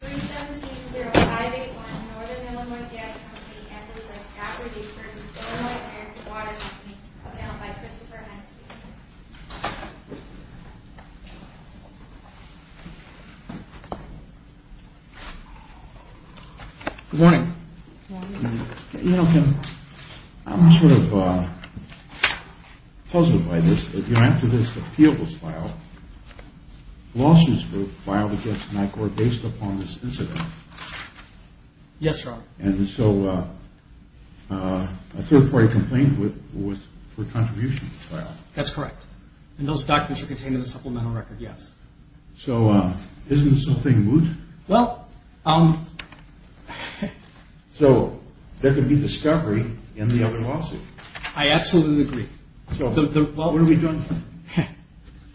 3-170-581 Northern Illinois Gas Company v. Eccles at Scott Ridges v. Stoneway and Waterton Coming out by Christopher Henske Good morning. Good morning. You know, Kim, I'm sort of puzzled by this. You know, after this appeal was filed, lawsuits were filed against NICOR based upon this incident. Yes, Your Honor. And so a third party complained for contribution to this file. That's correct. And those documents are contained in the supplemental record, yes. So isn't something moot? Well, um... So there could be discovery in the other lawsuit. I absolutely agree. So what are we doing?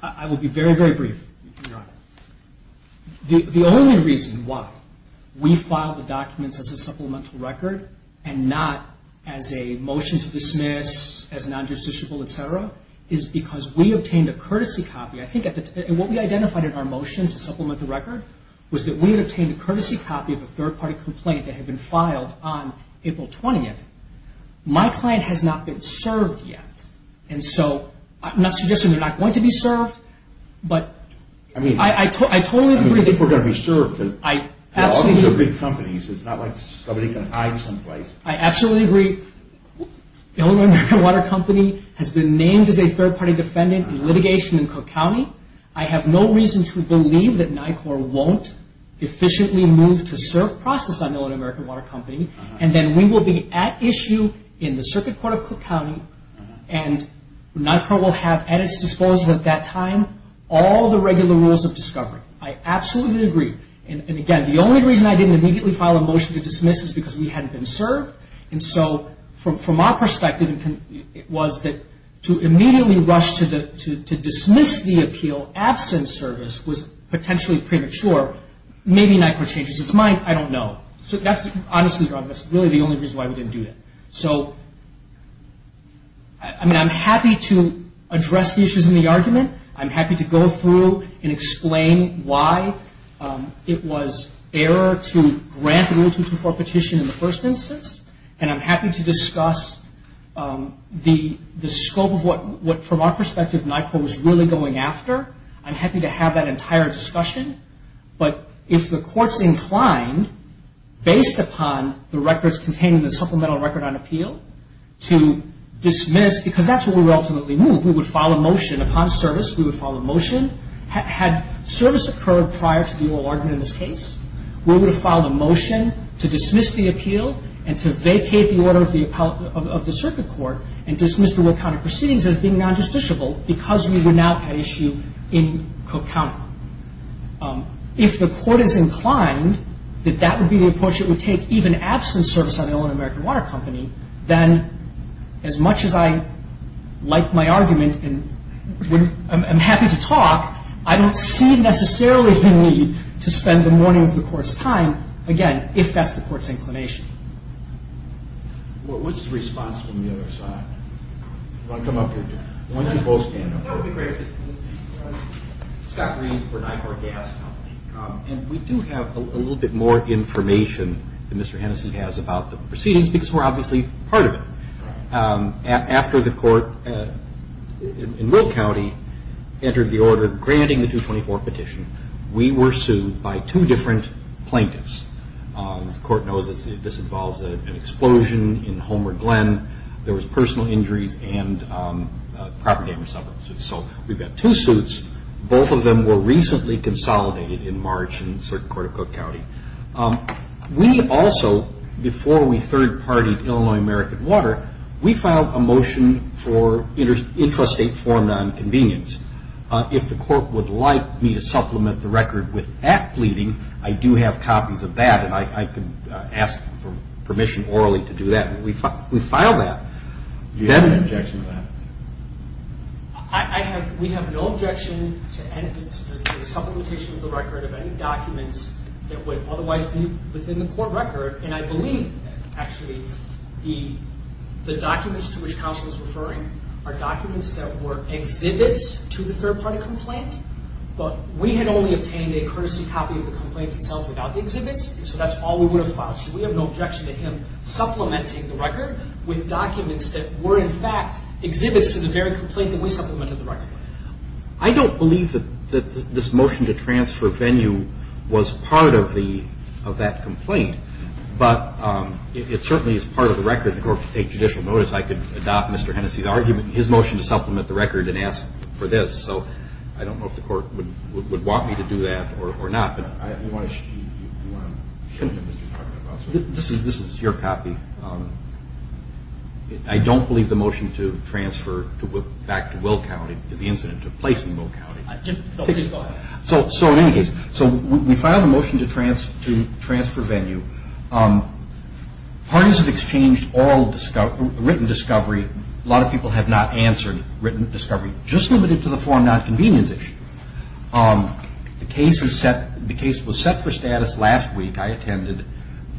I will be very, very brief, Your Honor. The only reason why we filed the documents as a supplemental record and not as a motion to dismiss, as non-justiciable, et cetera, is because we obtained a courtesy copy. I think what we identified in our motion to supplement the record was that we had obtained a courtesy copy of a third party complaint that had been filed on April 20th. My client has not been served yet. And so I'm not suggesting they're not going to be served. But I totally agree. I mean, I think we're going to be served. All these are big companies. It's not like somebody can hide someplace. I absolutely agree. Illinois American Water Company has been named as a third party defendant in litigation in Cook County. I have no reason to believe that NICOR won't efficiently move to serve process on Illinois American Water Company. And then we will be at issue in the circuit court of Cook County, and NICOR will have at its disposal at that time all the regular rules of discovery. I absolutely agree. And again, the only reason I didn't immediately file a motion to dismiss is because we hadn't been served. And so from our perspective, it was that to immediately rush to dismiss the appeal, absent service, was potentially premature. Maybe NICOR changes its mind. I don't know. Honestly, that's really the only reason why we didn't do that. So, I mean, I'm happy to address the issues in the argument. I'm happy to go through and explain why it was error to grant the Rule 224 petition in the first instance. And I'm happy to discuss the scope of what, from our perspective, NICOR was really going after. I'm happy to have that entire discussion. But if the court's inclined, based upon the records containing the supplemental record on appeal, to dismiss, because that's where we would ultimately move. We would file a motion upon service. We would file a motion. Had service occurred prior to the oral argument in this case, we would have filed a motion to dismiss the appeal and to vacate the order of the circuit court and dismiss the World County Proceedings as being non-justiciable because we were not at issue in Cook County. If the court is inclined that that would be the approach it would take, even absent service on their own American Water Company, then as much as I like my argument and I'm happy to talk, I don't see necessarily the need to spend the morning of the court's time, again, if that's the court's inclination. What's the response from the other side? Do you want to come up here? Why don't you both stand up? That would be great. Scott Green for NICOR Gas Company. And we do have a little bit more information that Mr. Hennessey has about the proceedings because we're obviously part of it. After the court in Will County entered the order granting the 224 petition, we were sued by two different plaintiffs. As the court knows, this involves an explosion in Homer Glen. There was personal injuries and property damage suffered. So we've got two suits. Both of them were recently consolidated in March in the circuit court of Cook County. We also, before we third-partied Illinois American Water, we filed a motion for intrastate form nonconvenience. If the court would like me to supplement the record with act pleading, I do have copies of that, and I can ask for permission orally to do that. We filed that. Do you have an objection to that? We have no objection to the supplementation of the record of any documents that would otherwise be within the court record. And I believe, actually, the documents to which counsel is referring are documents that were exhibits to the third-party complaint, but we had only obtained a courtesy copy of the complaint itself without the exhibits, so that's all we would have filed. So we have no objection to him supplementing the record with documents that were, in fact, exhibits to the very complaint that we supplemented the record with. I don't believe that this motion to transfer venue was part of that complaint, but it certainly is part of the record. If the court could take judicial notice, I could adopt Mr. Hennessey's argument in his motion to supplement the record and ask for this. So I don't know if the court would want me to do that or not. This is your copy. I don't believe the motion to transfer back to Will County is the incident that took place in Will County. So in any case, we filed a motion to transfer venue. Parties have exchanged written discovery. A lot of people have not answered written discovery, just limited to the form not convenience issue. The case was set for status last week I attended.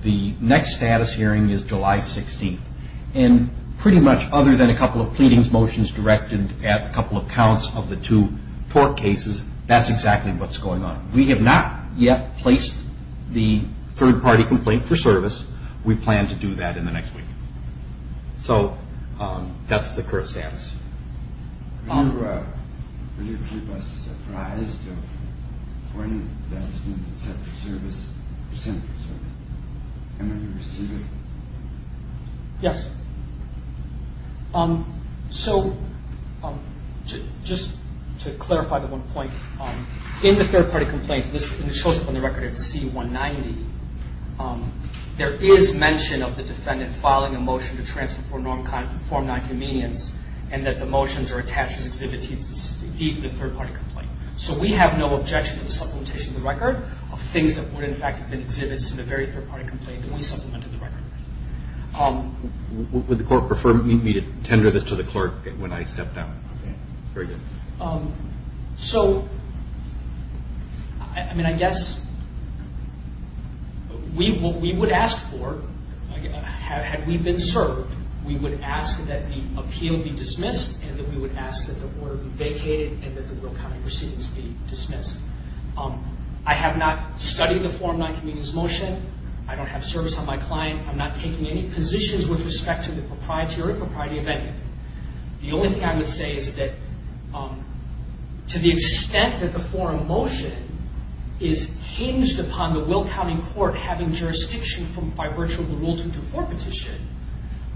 The next status hearing is July 16th, and pretty much other than a couple of pleadings motions directed at a couple of counts of the two tort cases, that's exactly what's going on. We have not yet placed the third-party complaint for service. We plan to do that in the next week. So that's the current status. Will you keep us surprised of when that's going to be set for service or sent for service? And when you receive it? Yes. So just to clarify the one point, in the third-party complaint, which shows up on the record as C190, there is mention of the defendant filing a motion to transfer for non-conform non-convenience, and that the motions are attached as exhibits to the third-party complaint. So we have no objection to the supplementation of the record of things that would in fact have been exhibits in the very third-party complaint that we supplemented the record with. Would the court prefer me to tender this to the clerk when I step down? Very good. So, I mean, I guess what we would ask for, had we been served, we would ask that the appeal be dismissed and that we would ask that the order be vacated and that the Will County proceedings be dismissed. I have not studied the Form 9 convenience motion. I don't have service on my client. I'm not taking any positions with respect to the propriety or impropriety of anything. The only thing I would say is that to the extent that the forum motion is hinged upon the Will County court having jurisdiction by virtue of the Rule 224 petition,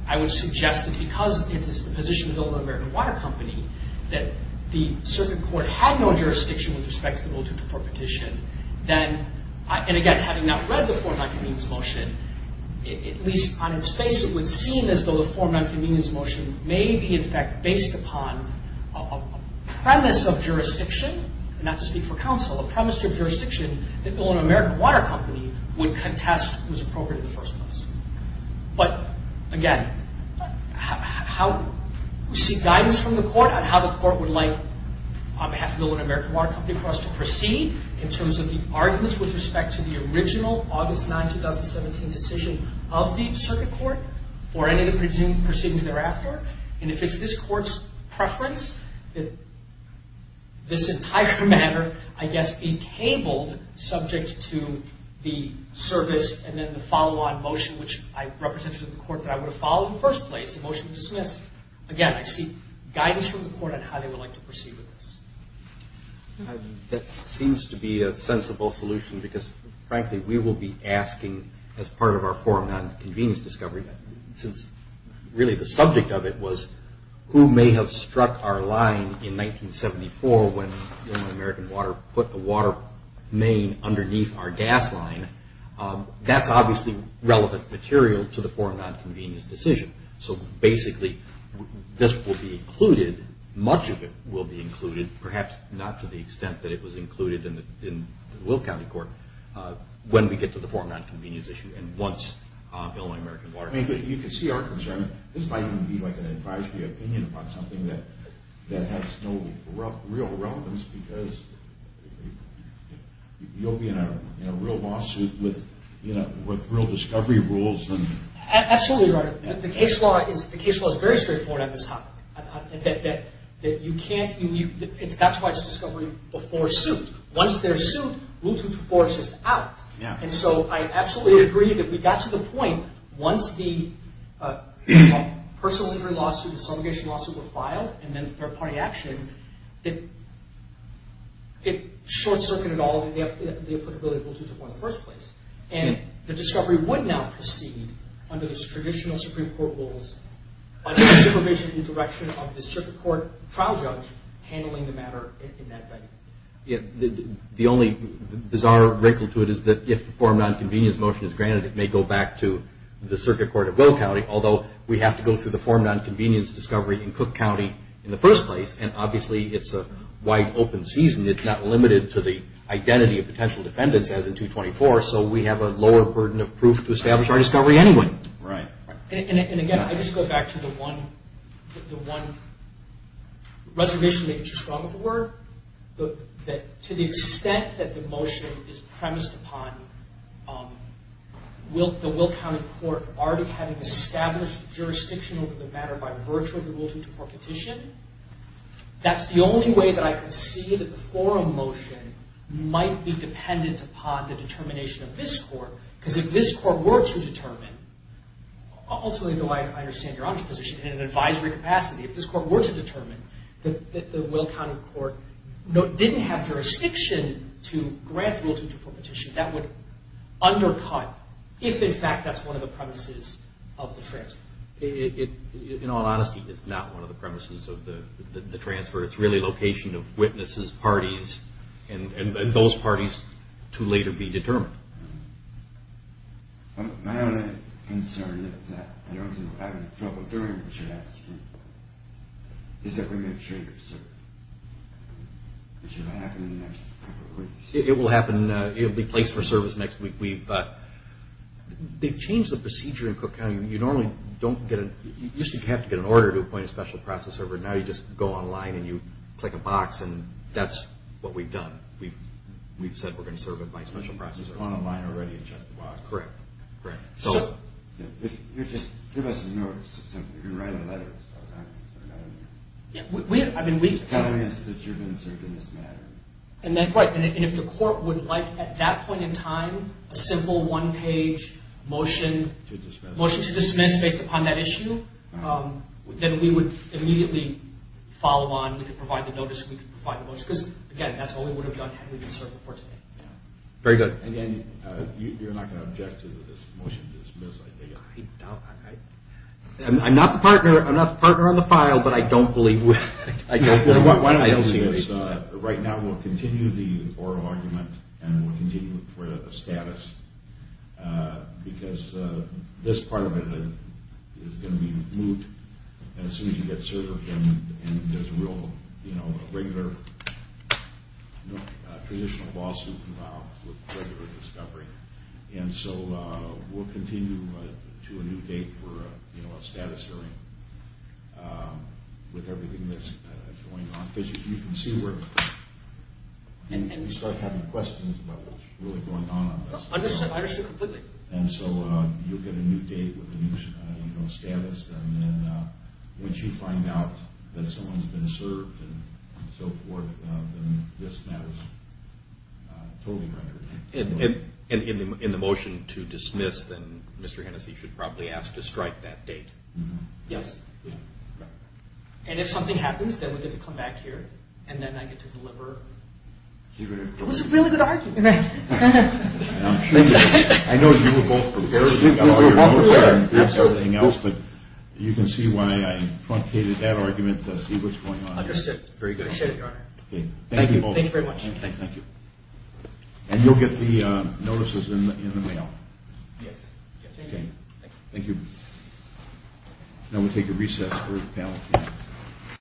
I would suggest that because it is the position of the Illinois American Water Company that the circuit court had no jurisdiction with respect to the Rule 224 petition, then, and again, having not read the Form 9 convenience motion, at least on its face, it would seem as though the Form 9 convenience motion may be, in fact, based upon a premise of jurisdiction, not to speak for counsel, a premise of jurisdiction that the Illinois American Water Company would contest was appropriate in the first place. But, again, we seek guidance from the court on how the court would like, on behalf of the Illinois American Water Company, for us to proceed in terms of the arguments with respect to the original August 9, 2017 decision of the circuit court or any of the proceedings thereafter. And if it's this court's preference that this entire matter, I guess, be tabled subject to the service and then the follow-on motion, which I represented to the court that I would have followed in the first place, a motion to dismiss, again, I seek guidance from the court on how they would like to proceed with this. That seems to be a sensible solution because, frankly, we will be asking, as part of our Form 9 convenience discovery, since really the subject of it was who may have struck our line in 1974 when Illinois American Water put the water main underneath our gas line, that's obviously relevant material to the Form 9 convenience decision. So, basically, this will be included, much of it will be included, perhaps not to the extent that it was included in the Will County Court, when we get to the Form 9 convenience issue and once Illinois American Water... I mean, you can see our concern. This might even be like an advisory opinion about something that has no real relevance because you'll be in a real lawsuit with real discovery rules and... The case law is very straightforward on this topic, that you can't... That's why it's discovery before suit. Once they're sued, rule 2-4 is just out. And so I absolutely agree that we got to the point once the personal injury lawsuit, the subrogation lawsuit were filed and then third-party action, that it short-circuited all the applicability of rule 2-4 in the first place. And the discovery would now proceed under the traditional Supreme Court rules under the supervision and direction of the circuit court trial judge handling the matter in that venue. The only bizarre wrinkle to it is that if the Form 9 convenience motion is granted, it may go back to the circuit court of Will County, although we have to go through the Form 9 convenience discovery in Cook County in the first place, and obviously it's a wide open season. It's not limited to the identity of potential defendants as in 2-24, so we have a lower burden of proof to establish our discovery anyway. Right. And again, I just go back to the one reservation that you struck with the word, that to the extent that the motion is premised upon the Will County court already having established jurisdiction over the matter by virtue of the rule 2-4 petition, that's the only way that I can see that the forum motion might be dependent upon the determination of this court, because if this court were to determine, ultimately though I understand your own position, in an advisory capacity, if this court were to determine that the Will County court didn't have jurisdiction to grant the rule 2-4 petition, that would undercut, if in fact that's one of the premises of the transfer. In all honesty, it's not one of the premises of the transfer. It's really location of witnesses, parties, and those parties to later be determined. My only concern is that we're going to change it. It should happen in the next couple of weeks. It will happen. It will be placed for service next week. They've changed the procedure in Cook County. You normally don't get a – you used to have to get an order to appoint a special process server. Now you just go online and you click a box, and that's what we've done. We've said we're going to serve with my special process server. You've gone online already and checked the box. Correct. Great. So – Just give us a notice of something. You're going to write a letter or something, right? I mean, we – Just telling us that you've been served in this manner. Right, and if the court would like at that point in time a simple one-page motion – To dismiss. Motion to dismiss based upon that issue, then we would immediately follow on. We could provide the notice. We could provide the motion. Because, again, that's all we would have done had we been served before today. Very good. And then you're not going to object to this motion to dismiss, I take it? I'm not the partner on the file, but I don't believe we – Why don't we do this? Right now we'll continue the oral argument and we'll continue it for the status because this part of it is going to be moved. And as soon as you get served, then there's a real – you know, a regular traditional lawsuit without regular discovery. And so we'll continue to a new date for a status hearing with everything that's going on. Because you can see where – And you start having questions about what's really going on. I understand completely. And so you'll get a new date with a new status, and then once you find out that someone's been served and so forth, then this matter is totally rendered. And in the motion to dismiss, then Mr. Hennessey should probably ask to strike that date. Yes. And if something happens, then we get to come back here, and then I get to deliver. It was a really good argument. Right. I know you were both prepared. We were both prepared, absolutely. But you can see why I truncated that argument to see what's going on. Understood. Very good. I appreciate it, Your Honor. Thank you both. Thank you very much. Thank you. And you'll get the notices in the mail. Yes. Thank you. Thank you. Now we'll take a recess for the panel.